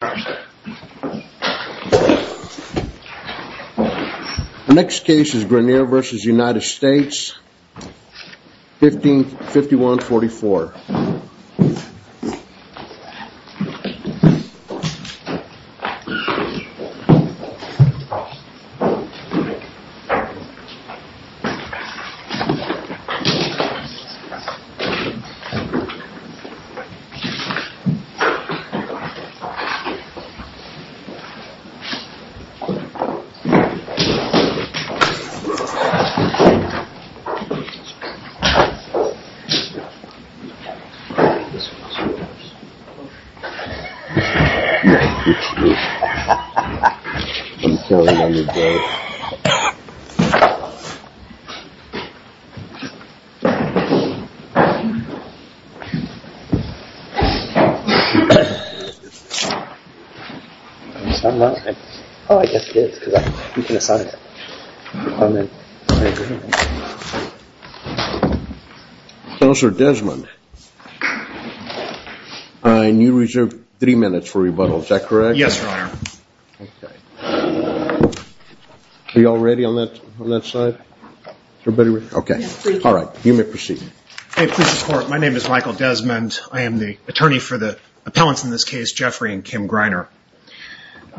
The next case is Greiner v. United States, 1551-44. This case is Greiner v. United States, 1551-44. This case is Greiner v. United States,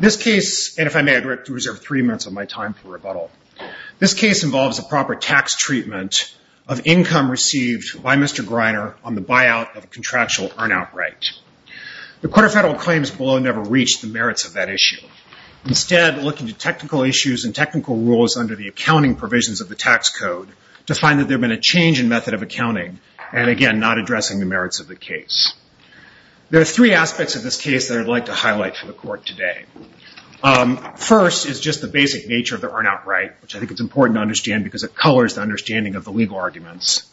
1551-44. This case, and if I may, I'd like to reserve three minutes of my time for rebuttal. This case involves a proper tax treatment of income received by Mr. Greiner on the buyout of a contractual earn-out right. The court of federal claims below never reached the merits of that issue. Instead, looking to technical issues and technical rules under the accounting provisions of the tax code to find that there had been a change in method of accounting, and again, not addressing the merits of the case. There are three aspects of this case that I'd like to highlight for the court today. First is just the basic nature of the earn-out right, which I think is important to understand because it colors the understanding of the legal arguments.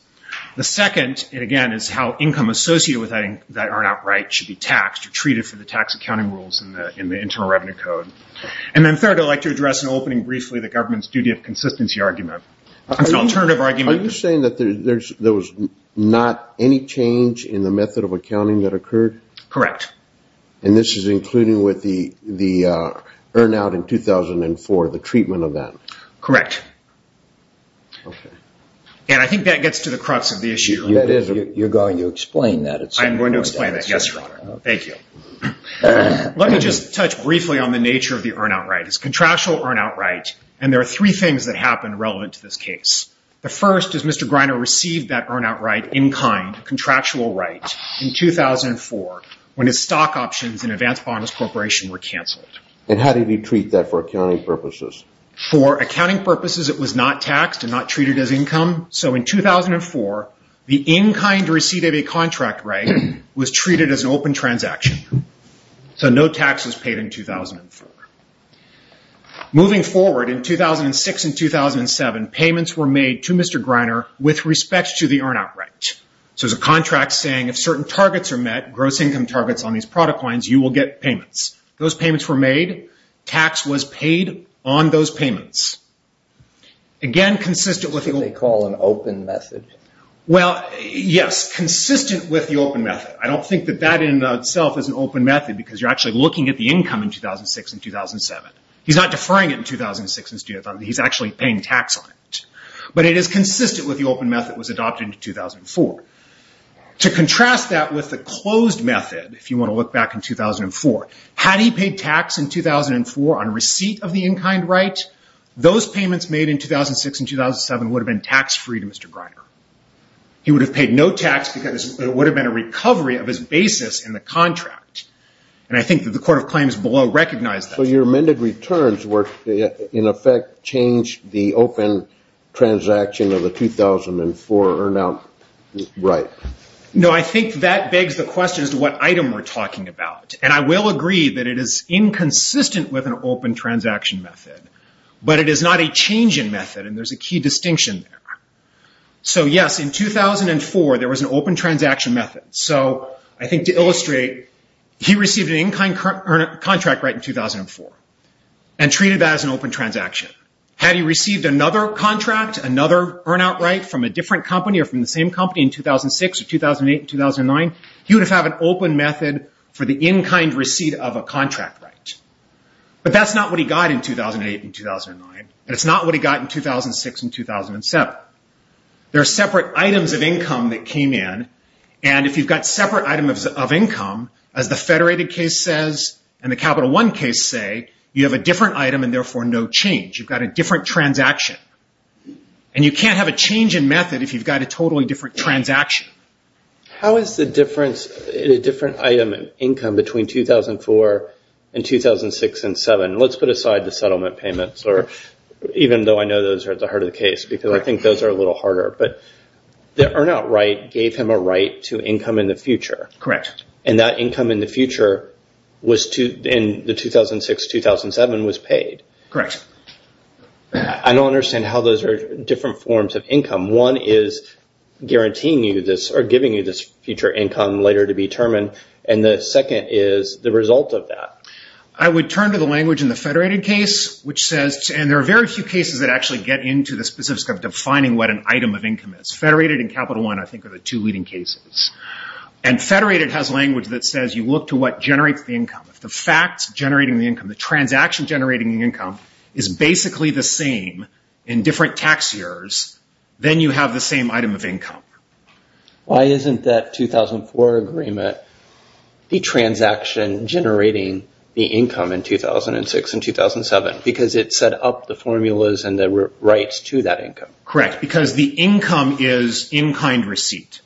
The second, and again, is how income associated with that earn-out right should be taxed or treated for the tax accounting rules in the Internal Revenue Code. And then third, I'd like to address in opening briefly the government's duty of consistency argument. Are you saying that there was not any change in the method of accounting that occurred? Correct. And this is including with the earn-out in 2004, the treatment of that? Correct. Okay. And I think that gets to the crux of the issue. You're going to explain that. I'm going to explain that, yes, Your Honor. Thank you. Let me just touch briefly on the nature of the earn-out right. And there are three things that happen relevant to this case. The first is Mr. Greiner received that earn-out right in kind, contractual right, in 2004 when his stock options in Advanced Bonus Corporation were canceled. And how did he treat that for accounting purposes? For accounting purposes, it was not taxed and not treated as income. So in 2004, the in-kind receipt of a contract right was treated as an open transaction. So no tax was paid in 2004. Moving forward, in 2006 and 2007, payments were made to Mr. Greiner with respect to the earn-out right. So there's a contract saying if certain targets are met, gross income targets on these product lines, you will get payments. Those payments were made. Tax was paid on those payments. Again, consistent with the open method. Well, yes, consistent with the open method. I don't think that that in itself is an open method because you're actually looking at the income in 2006 and 2007. He's not deferring it in 2006 and 2007. He's actually paying tax on it. But it is consistent with the open method that was adopted in 2004. To contrast that with the closed method, if you want to look back in 2004, had he paid tax in 2004 on a receipt of the in-kind right, those payments made in 2006 and 2007 would have been tax-free to Mr. Greiner. He would have paid no tax because it would have been a recovery of his basis in the contract. And I think that the Court of Claims below recognized that. So your amended returns were, in effect, changed the open transaction of the 2004 earn-out right. No, I think that begs the question as to what item we're talking about. And I will agree that it is inconsistent with an open transaction method. But it is not a change in method, and there's a key distinction there. So, yes, in 2004 there was an open transaction method. So I think to illustrate, he received an in-kind contract right in 2004 and treated that as an open transaction. Had he received another contract, another earn-out right from a different company or from the same company in 2006 or 2008 and 2009, he would have had an open method for the in-kind receipt of a contract right. But that's not what he got in 2008 and 2009, and it's not what he got in 2006 and 2007. There are separate items of income that came in. And if you've got separate items of income, as the Federated case says and the Capital One case say, you have a different item and therefore no change. You've got a different transaction. And you can't have a change in method if you've got a totally different transaction. How is the difference in a different item income between 2004 and 2006 and 2007? Let's put aside the settlement payments, even though I know those are at the heart of the case, because I think those are a little harder. But the earn-out right gave him a right to income in the future. Correct. And that income in the future in the 2006-2007 was paid. Correct. I don't understand how those are different forms of income. One is guaranteeing you this or giving you this future income later to be determined, and the second is the result of that. I would turn to the language in the Federated case, which says, and there are very few cases that actually get into the specifics of defining what an item of income is. Federated and Capital One, I think, are the two leading cases. And Federated has language that says you look to what generates the income. If the fact generating the income, the transaction generating the income, is basically the same in different tax years, then you have the same item of income. Why isn't that 2004 agreement the transaction generating the income in 2006 and 2007? Because it set up the formulas and the rights to that income. Correct. Because the income is in-kind receipt.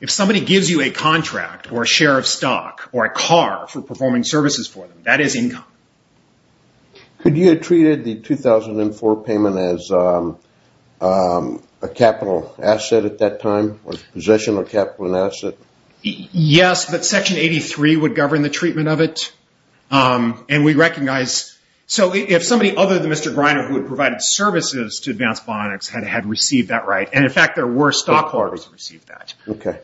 If somebody gives you a contract or a share of stock or a car for performing services for them, that is income. Could you have treated the 2004 payment as a capital asset at that time, or possession of capital and asset? Yes, but Section 83 would govern the treatment of it. And we recognize, so if somebody other than Mr. Greiner, who had provided services to Advanced Bionics, had received that right, and, in fact, there were stockholders who received that.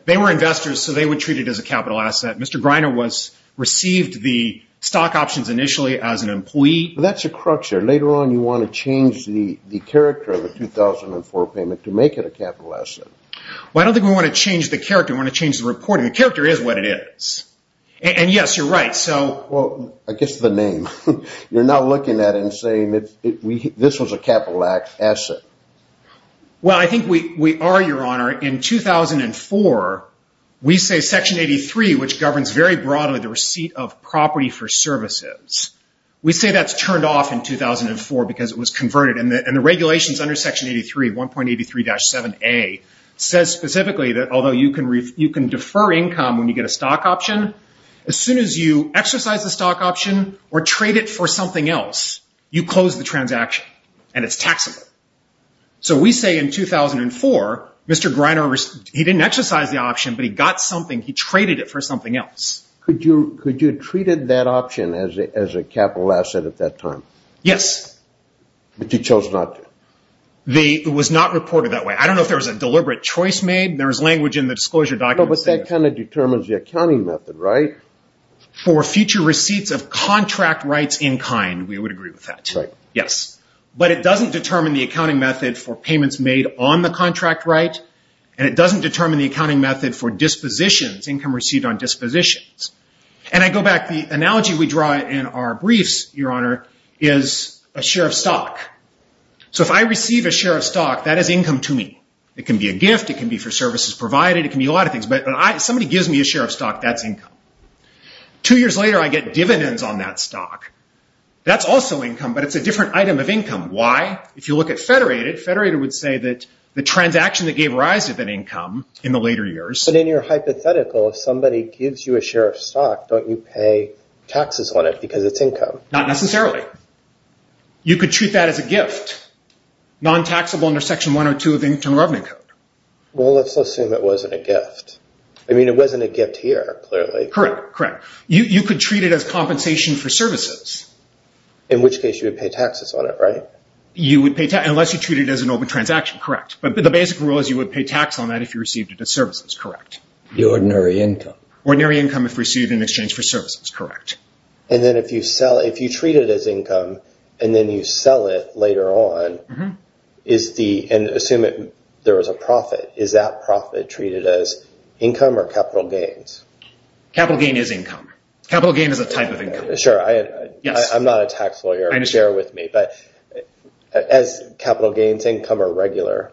They were investors, so they would treat it as a capital asset. Mr. Greiner received the stock options initially as an employee. That's a crutch there. Later on, you want to change the character of the 2004 payment to make it a capital asset. Well, I don't think we want to change the character. We want to change the reporting. The character is what it is. And, yes, you're right. Well, I guess the name. You're not looking at it and saying this was a capital asset. Well, I think we are, Your Honor. In 2004, we say Section 83, which governs very broadly the receipt of property for services. We say that's turned off in 2004 because it was converted. And the regulations under Section 83, 1.83-7A, says specifically that, although you can defer income when you get a stock option, as soon as you exercise the stock option or trade it for something else, you close the transaction, and it's taxable. So we say in 2004, Mr. Greiner, he didn't exercise the option, but he got something. He traded it for something else. Could you have treated that option as a capital asset at that time? Yes. But you chose not to. It was not reported that way. I don't know if there was a deliberate choice made. There was language in the disclosure document. No, but that kind of determines the accounting method, right? For future receipts of contract rights in kind, we would agree with that. Right. Yes. But it doesn't determine the accounting method for payments made on the contract right, and it doesn't determine the accounting method for dispositions, income received on dispositions. And I go back. The analogy we draw in our briefs, Your Honor, is a share of stock. So if I receive a share of stock, that is income to me. It can be a gift. It can be for services provided. It can be a lot of things. But if somebody gives me a share of stock, that's income. Two years later, I get dividends on that stock. That's also income, but it's a different item of income. Why? If you look at Federated, Federated would say that the transaction that gave rise to that income in the later years. But in your hypothetical, if somebody gives you a share of stock, don't you pay taxes on it because it's income? Not necessarily. You could treat that as a gift. Non-taxable under Section 102 of the Internal Revenue Code. Well, let's assume it wasn't a gift. I mean, it wasn't a gift here, clearly. Correct. Correct. You could treat it as compensation for services. In which case you would pay taxes on it, right? You would pay taxes, unless you treat it as an open transaction. Correct. But the basic rule is you would pay tax on that if you received it as services. Correct. Ordinary income. Ordinary income if received in exchange for services. Correct. And then if you treat it as income and then you sell it later on, and assume there was a profit, is that profit treated as income or capital gains? Capital gain is income. Capital gain is a type of income. Sure. I'm not a tax lawyer. I understand. But as capital gains, income or regular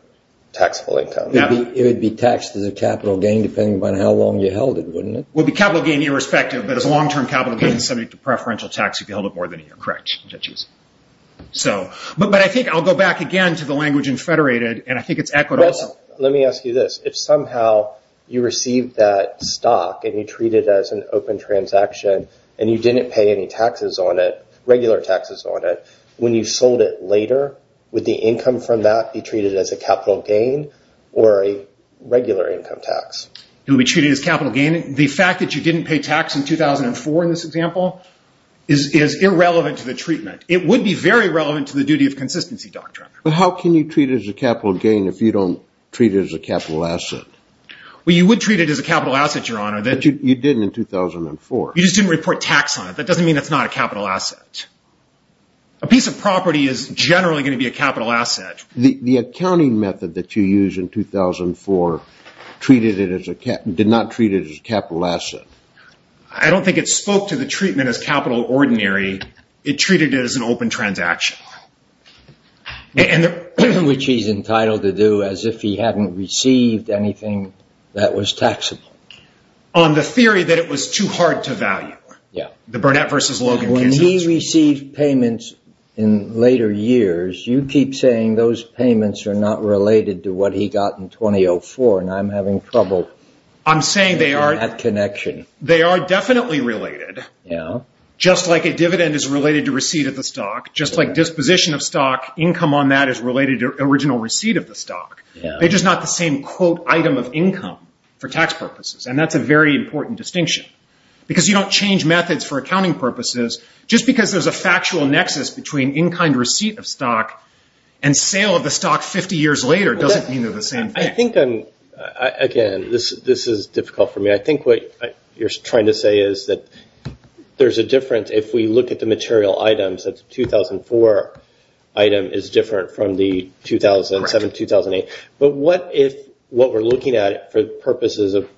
taxable income? It would be taxed as a capital gain depending upon how long you held it, wouldn't it? It would be capital gain irrespective, but as a long-term capital gain subject to preferential tax, you could hold it more than a year. Correct. But I think I'll go back again to the language in federated, and I think it's equitable. Let me ask you this. If somehow you received that stock and you treat it as an open transaction and you didn't pay any taxes on it, regular taxes on it, when you sold it later, would the income from that be treated as a capital gain or a regular income tax? It would be treated as capital gain. The fact that you didn't pay tax in 2004 in this example is irrelevant to the treatment. It would be very relevant to the duty of consistency doctrine. But how can you treat it as a capital gain if you don't treat it as a capital asset? Well, you would treat it as a capital asset, Your Honor. But you didn't in 2004. You just didn't report tax on it. That doesn't mean it's not a capital asset. A piece of property is generally going to be a capital asset. The accounting method that you used in 2004 did not treat it as a capital asset. I don't think it spoke to the treatment as capital ordinary. It treated it as an open transaction. Which he's entitled to do as if he hadn't received anything that was taxable. On the theory that it was too hard to value. Yeah. The Burnett versus Logan cases. When he received payments in later years, you keep saying those payments are not related to what he got in 2004, and I'm having trouble in that connection. They are definitely related. Yeah. Just like a dividend is related to receipt of the stock, just like disposition of stock, income on that is related to original receipt of the stock. They're just not the same quote item of income for tax purposes, and that's a very important distinction. Because you don't change methods for accounting purposes. Just because there's a factual nexus between in-kind receipt of stock and sale of the stock 50 years later doesn't mean they're the same thing. I think, again, this is difficult for me. I think what you're trying to say is that there's a difference if we look at the material items. 2004 item is different from the 2007-2008. But what if what we're looking at for purposes of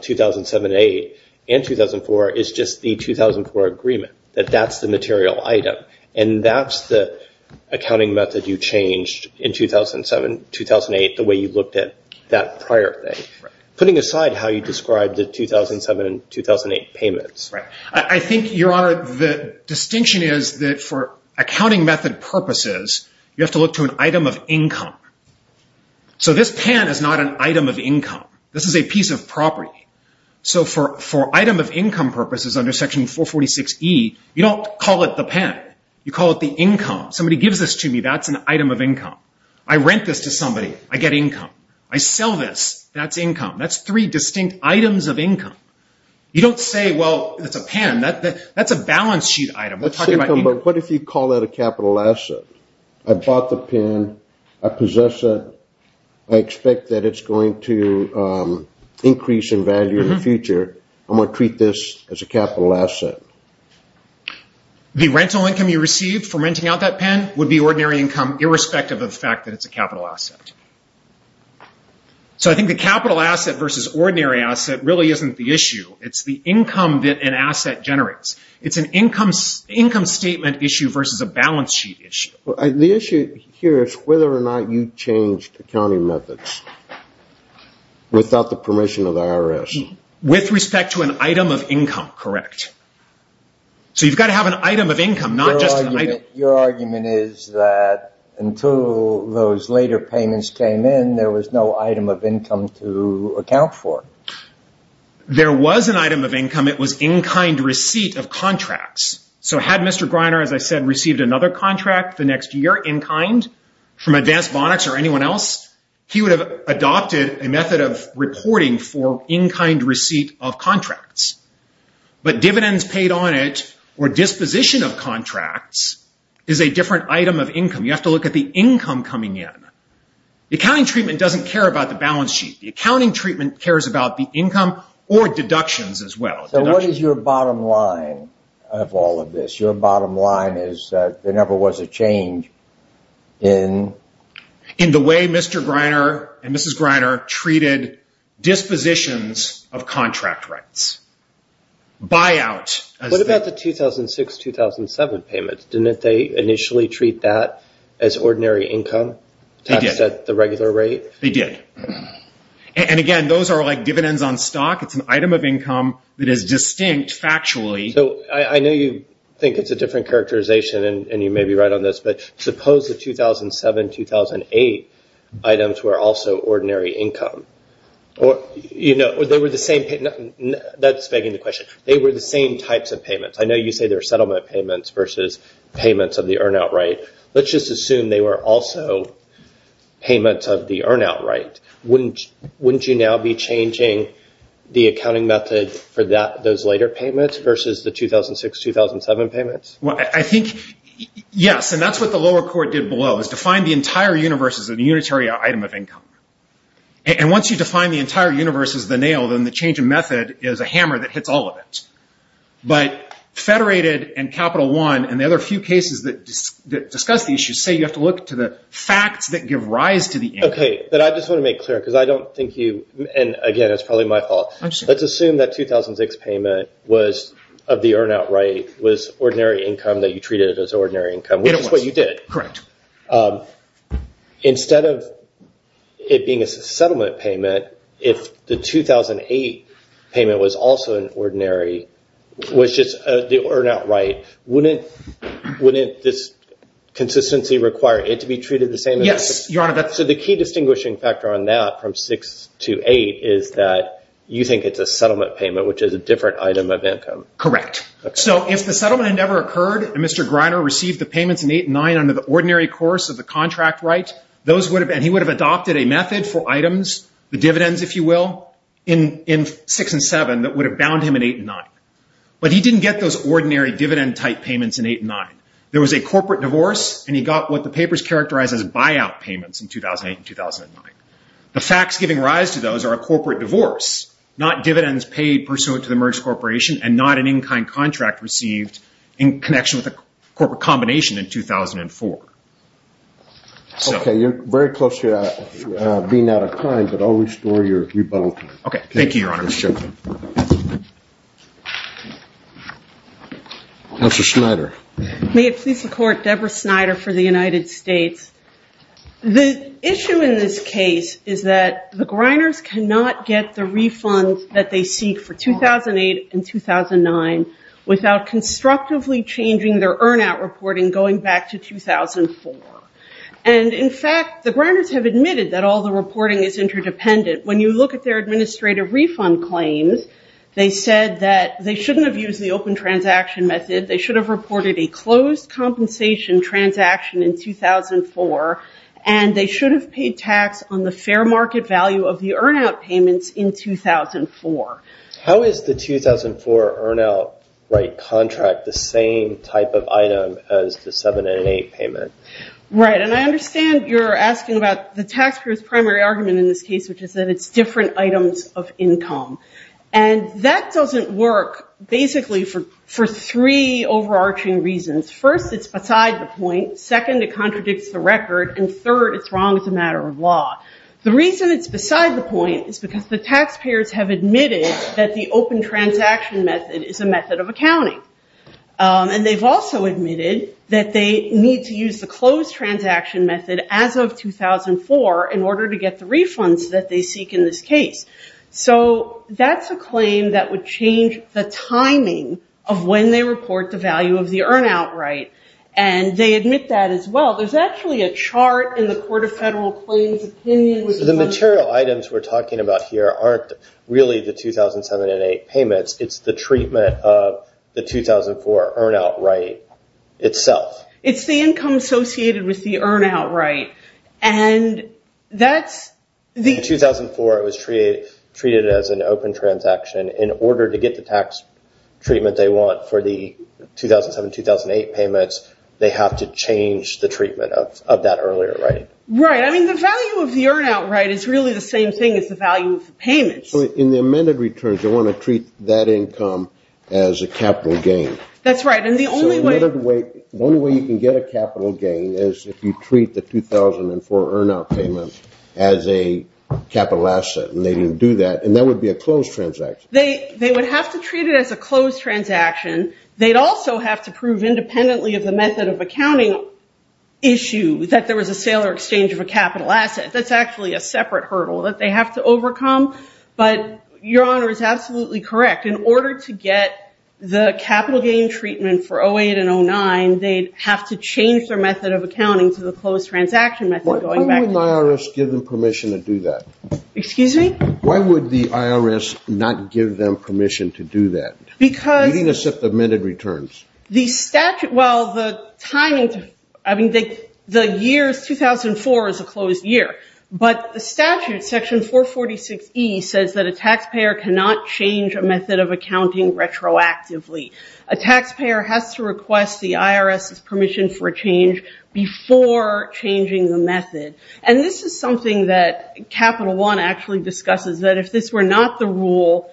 2007-2008 and 2004 is just the 2004 agreement, that that's the material item, and that's the accounting method you changed in 2007-2008, the way you looked at that prior thing, putting aside how you described the 2007-2008 payments. Right. I think, Your Honor, the distinction is that for accounting method purposes, you have to look to an item of income. So this pen is not an item of income. This is a piece of property. So for item of income purposes under Section 446E, you don't call it the pen. You call it the income. Somebody gives this to me. That's an item of income. I rent this to somebody. I sell this. That's income. That's three distinct items of income. You don't say, Well, it's a pen. That's a balance sheet item. We're talking about income. But what if you call that a capital asset? I bought the pen. I possess it. I expect that it's going to increase in value in the future. I'm going to treat this as a capital asset. The rental income you received from renting out that pen would be ordinary income, irrespective of the fact that it's a capital asset. So I think the capital asset versus ordinary asset really isn't the issue. It's the income that an asset generates. It's an income statement issue versus a balance sheet issue. The issue here is whether or not you changed accounting methods without the permission of the IRS. With respect to an item of income, correct. So you've got to have an item of income, not just an item. Your argument is that until those later payments came in, there was no item of income to account for. There was an item of income. It was in-kind receipt of contracts. So had Mr. Greiner, as I said, received another contract the next year in-kind from Advanced Bonnex or anyone else, he would have adopted a method of reporting for in-kind receipt of contracts. But dividends paid on it or disposition of contracts is a different item of income. You have to look at the income coming in. The accounting treatment doesn't care about the balance sheet. The accounting treatment cares about the income or deductions as well. So what is your bottom line of all of this? Your bottom line is that there never was a change in? In the way Mr. Greiner and Mrs. Greiner treated dispositions of contract rights. What about the 2006-2007 payments? Didn't they initially treat that as ordinary income taxed at the regular rate? They did. Again, those are like dividends on stock. It's an item of income that is distinct factually. I know you think it's a different characterization and you may be right on this, but suppose the 2007-2008 items were also ordinary income. That's begging the question. They were the same types of payments. I know you say they were settlement payments versus payments of the earn-out right. Let's just assume they were also payments of the earn-out right. Wouldn't you now be changing the accounting method for those later payments versus the 2006-2007 payments? I think yes, and that's what the lower court did below. It defined the entire universe as a unitary item of income. Once you define the entire universe as the nail, then the change of method is a hammer that hits all of it. But Federated and Capital One and the other few cases that discuss these should say you have to look to the facts that give rise to the income. I just want to make clear because I don't think you, and again, it's probably my fault. Let's assume that 2006 payment was of the earn-out right, was ordinary income that you treated as ordinary income, which is what you did. Correct. Instead of it being a settlement payment, if the 2008 payment was also an ordinary, was just the earn-out right, wouldn't this consistency require it to be treated the same? Yes, Your Honor. So the key distinguishing factor on that from 6 to 8 is that you think it's a settlement payment, which is a different item of income. Correct. So if the settlement had never occurred and Mr. Greiner received the payments in 8 and 9 under the ordinary course of the contract right, he would have adopted a method for items, the dividends, if you will, in 6 and 7 that would have bound him in 8 and 9. But he didn't get those ordinary dividend-type payments in 8 and 9. There was a corporate divorce, and he got what the papers characterize as buyout payments in 2008 and 2009. The facts giving rise to those are a corporate divorce, not dividends paid pursuant to the merged corporation, and not an in-kind contract received in connection with a corporate combination in 2004. Okay. You're very close to being out of time, but I'll restore your rebuttal. Okay. Thank you, Your Honor. Mr. Schneider. May it please the Court, Deborah Schneider for the United States. The issue in this case is that the Greiners cannot get the refunds that they seek for 2008 and 2009 without constructively changing their earn-out reporting going back to 2004. And, in fact, the Greiners have admitted that all the reporting is interdependent. When you look at their administrative refund claims, they said that they shouldn't have used the open transaction method. They should have reported a closed compensation transaction in 2004, and they should have paid tax on the fair market value of the earn-out payments in 2004. How is the 2004 earn-out right contract the same type of item as the 2008 payment? Right. And I understand you're asking about the taxpayer's primary argument in this case, which is that it's different items of income. And that doesn't work basically for three overarching reasons. First, it's beside the point. Second, it contradicts the record. And third, it's wrong as a matter of law. The reason it's beside the point is because the taxpayers have admitted that the open transaction method is a method of accounting. And they've also admitted that they need to use the closed transaction method as of 2004 in order to get the refunds that they seek in this case. So that's a claim that would change the timing of when they report the value of the earn-out right. And they admit that as well. There's actually a chart in the Court of Federal Claims opinion. The material items we're talking about here aren't really the 2007 and 2008 payments. It's the treatment of the 2004 earn-out right itself. It's the income associated with the earn-out right. In 2004, it was treated as an open transaction. In order to get the tax treatment they want for the 2007-2008 payments, they have to change the treatment of that earlier right. Right. I mean the value of the earn-out right is really the same thing as the value of the payments. In the amended returns, they want to treat that income as a capital gain. That's right. The only way you can get a capital gain is if you treat the 2004 earn-out payment as a capital asset. And they didn't do that. And that would be a closed transaction. They would have to treat it as a closed transaction. They'd also have to prove independently of the method of accounting issue that there was a sale or exchange of a capital asset. That's actually a separate hurdle that they have to overcome. But Your Honor is absolutely correct. In order to get the capital gain treatment for 2008 and 2009, they'd have to change their method of accounting to the closed transaction method going back. Why wouldn't the IRS give them permission to do that? Excuse me? Why would the IRS not give them permission to do that? Because. Reading a set of amended returns. The statute, well the timing, I mean the year is 2004 is a closed year. But the statute, section 446E, says that a taxpayer cannot change a method of accounting retroactively. A taxpayer has to request the IRS's permission for a change before changing the method. And this is something that Capital One actually discusses, that if this were not the rule,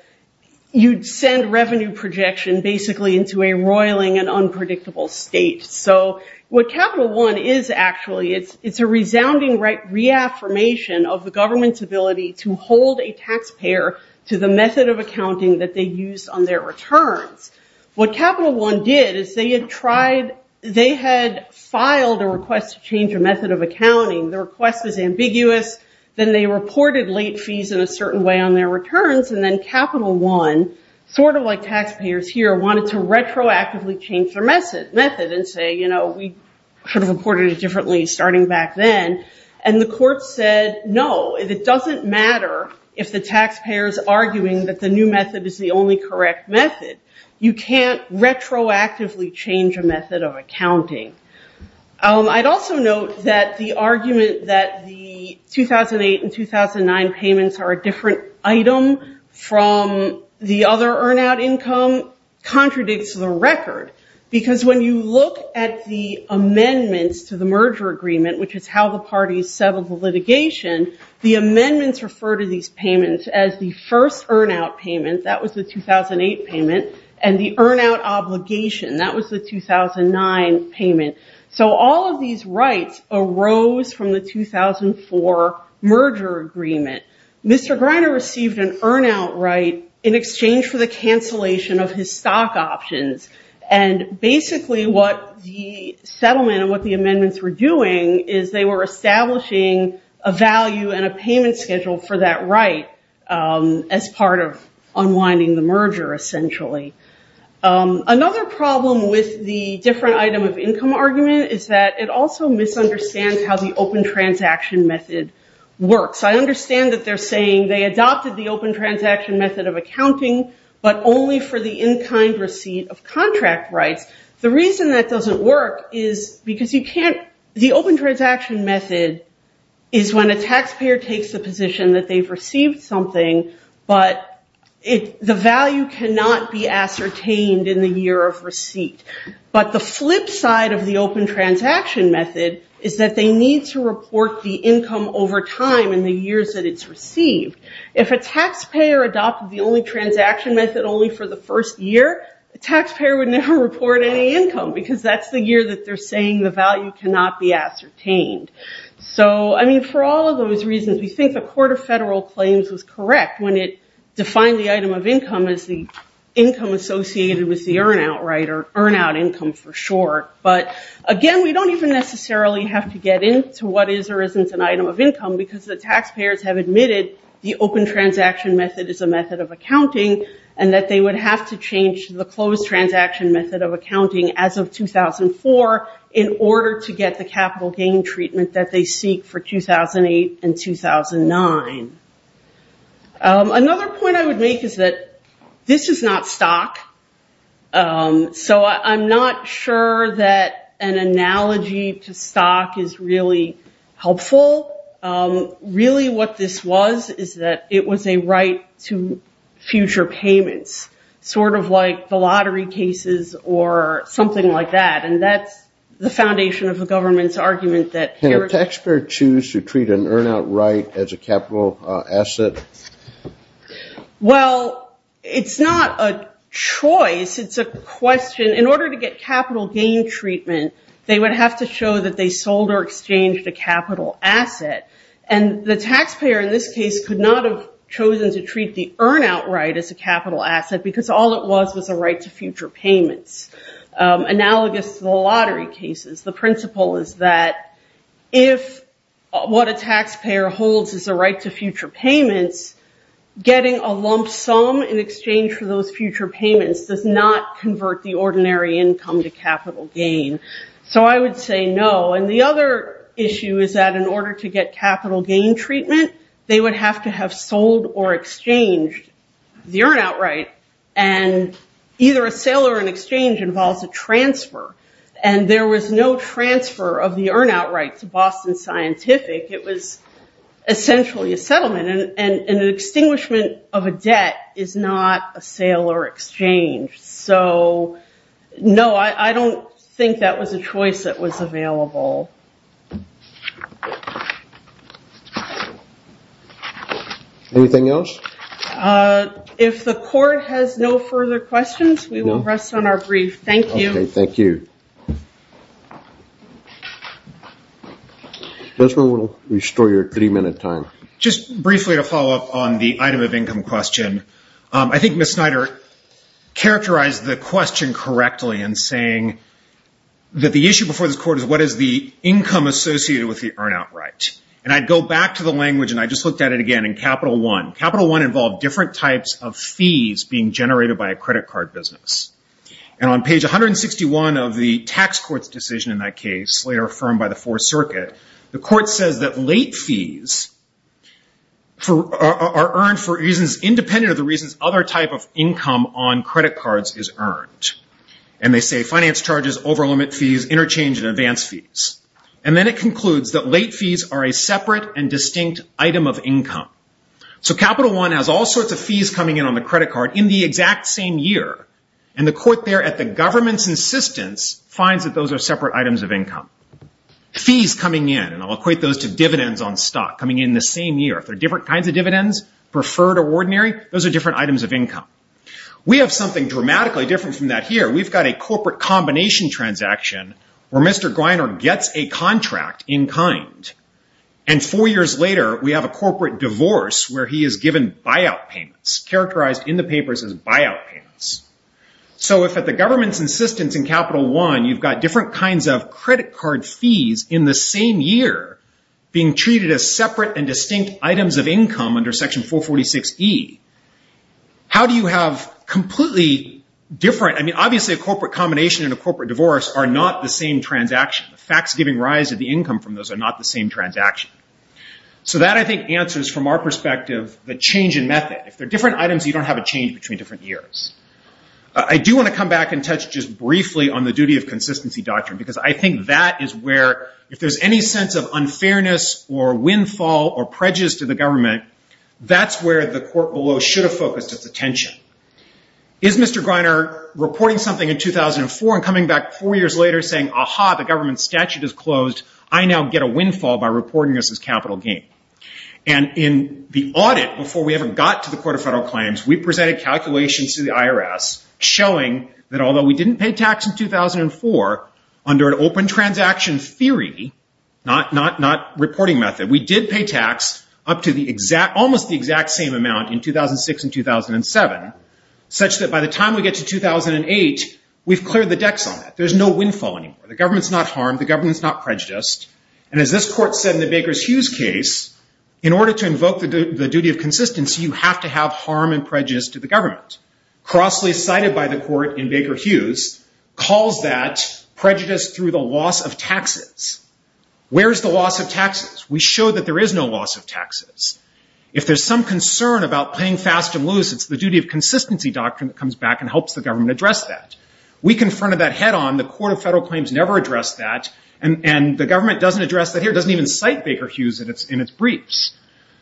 you'd send revenue projection basically into a roiling and unpredictable state. So what Capital One is actually, it's a resounding reaffirmation of the government's ability to hold a taxpayer to the method of accounting that they use on their returns. What Capital One did is they had tried, they had filed a request to change a method of accounting. The request was ambiguous. Then they reported late fees in a certain way on their returns. And then Capital One, sort of like taxpayers here, wanted to retroactively change their method and say, you know, we should have reported it differently starting back then. And the court said, no. It doesn't matter if the taxpayer is arguing that the new method is the only correct method. You can't retroactively change a method of accounting. I'd also note that the argument that the 2008 and 2009 payments are a different item from the other earn out income contradicts the record. Because when you look at the amendments to the merger agreement, which is how the parties settled the litigation, the amendments refer to these payments as the first earn out payment. That was the 2008 payment. And the earn out obligation, that was the 2009 payment. So all of these rights arose from the 2004 merger agreement. Mr. Greiner received an earn out right in exchange for the cancellation of his stock options. And basically what the settlement and what the amendments were doing is they were establishing a value and a payment schedule for that right as part of unwinding the merger, essentially. Another problem with the different item of income argument is that it also misunderstands how the open transaction method works. I understand that they're saying they adopted the open transaction method of contract rights. The reason that doesn't work is because the open transaction method is when a taxpayer takes the position that they've received something, but the value cannot be ascertained in the year of receipt. But the flip side of the open transaction method is that they need to report the income over time in the years that it's received. If a taxpayer adopted the only transaction method only for the first year, the taxpayer would never report any income because that's the year that they're saying the value cannot be ascertained. So, I mean, for all of those reasons, we think the Court of Federal Claims was correct when it defined the item of income as the income associated with the earn out, right, or earn out income for short. But, again, we don't even necessarily have to get into what is or isn't an item of income because the taxpayers have admitted the open transaction method is a method of accounting and that they would have to change the closed transaction method of accounting as of 2004 in order to get the capital gain treatment that they seek for 2008 and 2009. Another point I would make is that this is not stock. So I'm not sure that an analogy to stock is really helpful. Really what this was is that it was a right to future payments, sort of like the lottery cases or something like that, and that's the foundation of the government's argument that heritage. Can a taxpayer choose to treat an earn out right as a capital asset? Well, it's not a choice. It's a question. In order to get capital gain treatment, they would have to show that they sold or exchanged a capital asset. And the taxpayer in this case could not have chosen to treat the earn out right as a capital asset because all it was was a right to future payments, analogous to the lottery cases. The principle is that if what a taxpayer holds is a right to future payments, getting a lump sum in exchange for those future payments does not convert the So I would say no. And the other issue is that in order to get capital gain treatment, they would have to have sold or exchanged the earn out right. And either a sale or an exchange involves a transfer. And there was no transfer of the earn out right to Boston Scientific. It was essentially a settlement. And an extinguishment of a debt is not a sale or exchange. So, no, I don't think that was a choice that was available. Anything else? If the court has no further questions, we will rest on our brief. Thank you. Okay, thank you. Desmond, we'll restore your three-minute time. Just briefly to follow up on the item of income question, I think Ms. Snyder characterized the question correctly in saying that the issue before this court is what is the income associated with the earn out right. And I'd go back to the language, and I just looked at it again, in Capital I. Capital I involved different types of fees being generated by a credit card business. And on page 161 of the tax court's decision in that case, later affirmed by the Fourth Circuit, the court says that late fees are earned for reasons independent of the reasons other type of income on credit cards is earned. And they say finance charges, over limit fees, interchange and advance fees. And then it concludes that late fees are a separate and distinct item of income. So Capital I has all sorts of fees coming in on the credit card in the exact same year. And the court there at the government's insistence finds that those are separate items of income. Fees coming in, and I'll equate those to dividends on stock, coming in the same year. If they're different kinds of dividends, preferred or ordinary, those are different items of income. We have something dramatically different from that here. We've got a corporate combination transaction where Mr. Griner gets a contract in kind. And four years later, we have a corporate divorce where he is given buyout payments, characterized in the papers as buyout payments. So if at the government's insistence in Capital I, you've got different kinds of credit card fees in the same year being treated as separate and distinct items of income under Section 446E, how do you have completely different? I mean, obviously, a corporate combination and a corporate divorce are not the same transaction. The facts giving rise to the income from those are not the same transaction. So that, I think, answers from our perspective the change in method. If they're different items, you don't have a change between different years. I do want to come back and touch just briefly on the duty of consistency doctrine because I think that is where if there's any sense of unfairness or windfall or prejudice to the government, that's where the court below should have focused its attention. Is Mr. Griner reporting something in 2004 and coming back four years later saying, aha, the government statute is closed, I now get a windfall by reporting this as capital gain? And in the audit, before we ever got to the Court of Federal Claims, we presented calculations to the IRS showing that although we didn't pay tax in 2004, under an open transaction theory, not reporting method, we did pay tax up to almost the exact same amount in 2006 and 2007, such that by the time we get to 2008, we've cleared the decks on that. There's no windfall anymore. The government's not harmed. The government's not prejudiced. And as this court said in the Baker Hughes case, in order to invoke the duty of consistency, you have to have harm and prejudice to the government. Crossly cited by the court in Baker Hughes calls that prejudice through the loss of taxes. Where's the loss of taxes? We show that there is no loss of taxes. If there's some concern about paying fast and loose, it's the duty of consistency doctrine that comes back and helps the government address that. We confronted that head on. The Court of Federal Claims never addressed that, and the government doesn't address that here. It doesn't even cite Baker Hughes in its briefs.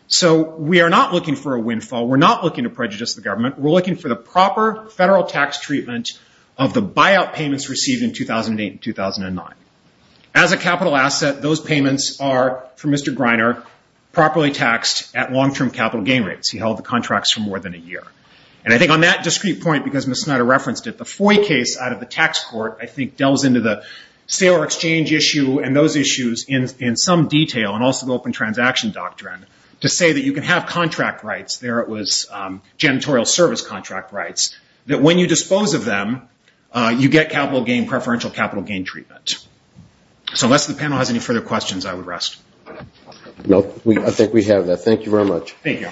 So we are not looking for a windfall. We're not looking to prejudice the government. We're looking for the proper federal tax treatment of the buyout payments received in 2008 and 2009. As a capital asset, those payments are, for Mr. Greiner, properly taxed at long-term capital gain rates. He held the contracts for more than a year. And I think on that discrete point, because Ms. Snyder referenced it, the FOIA case out of the tax court, I think, delves into the sale or exchange issue and those issues in some detail, and also the open transaction doctrine, to say that you can have contract rights. There it was, janitorial service contract rights, that when you dispose of them, you get capital gain, preferential capital gain treatment. So unless the panel has any further questions, I would rest. No, I think we have that. Thank you very much. Thank you.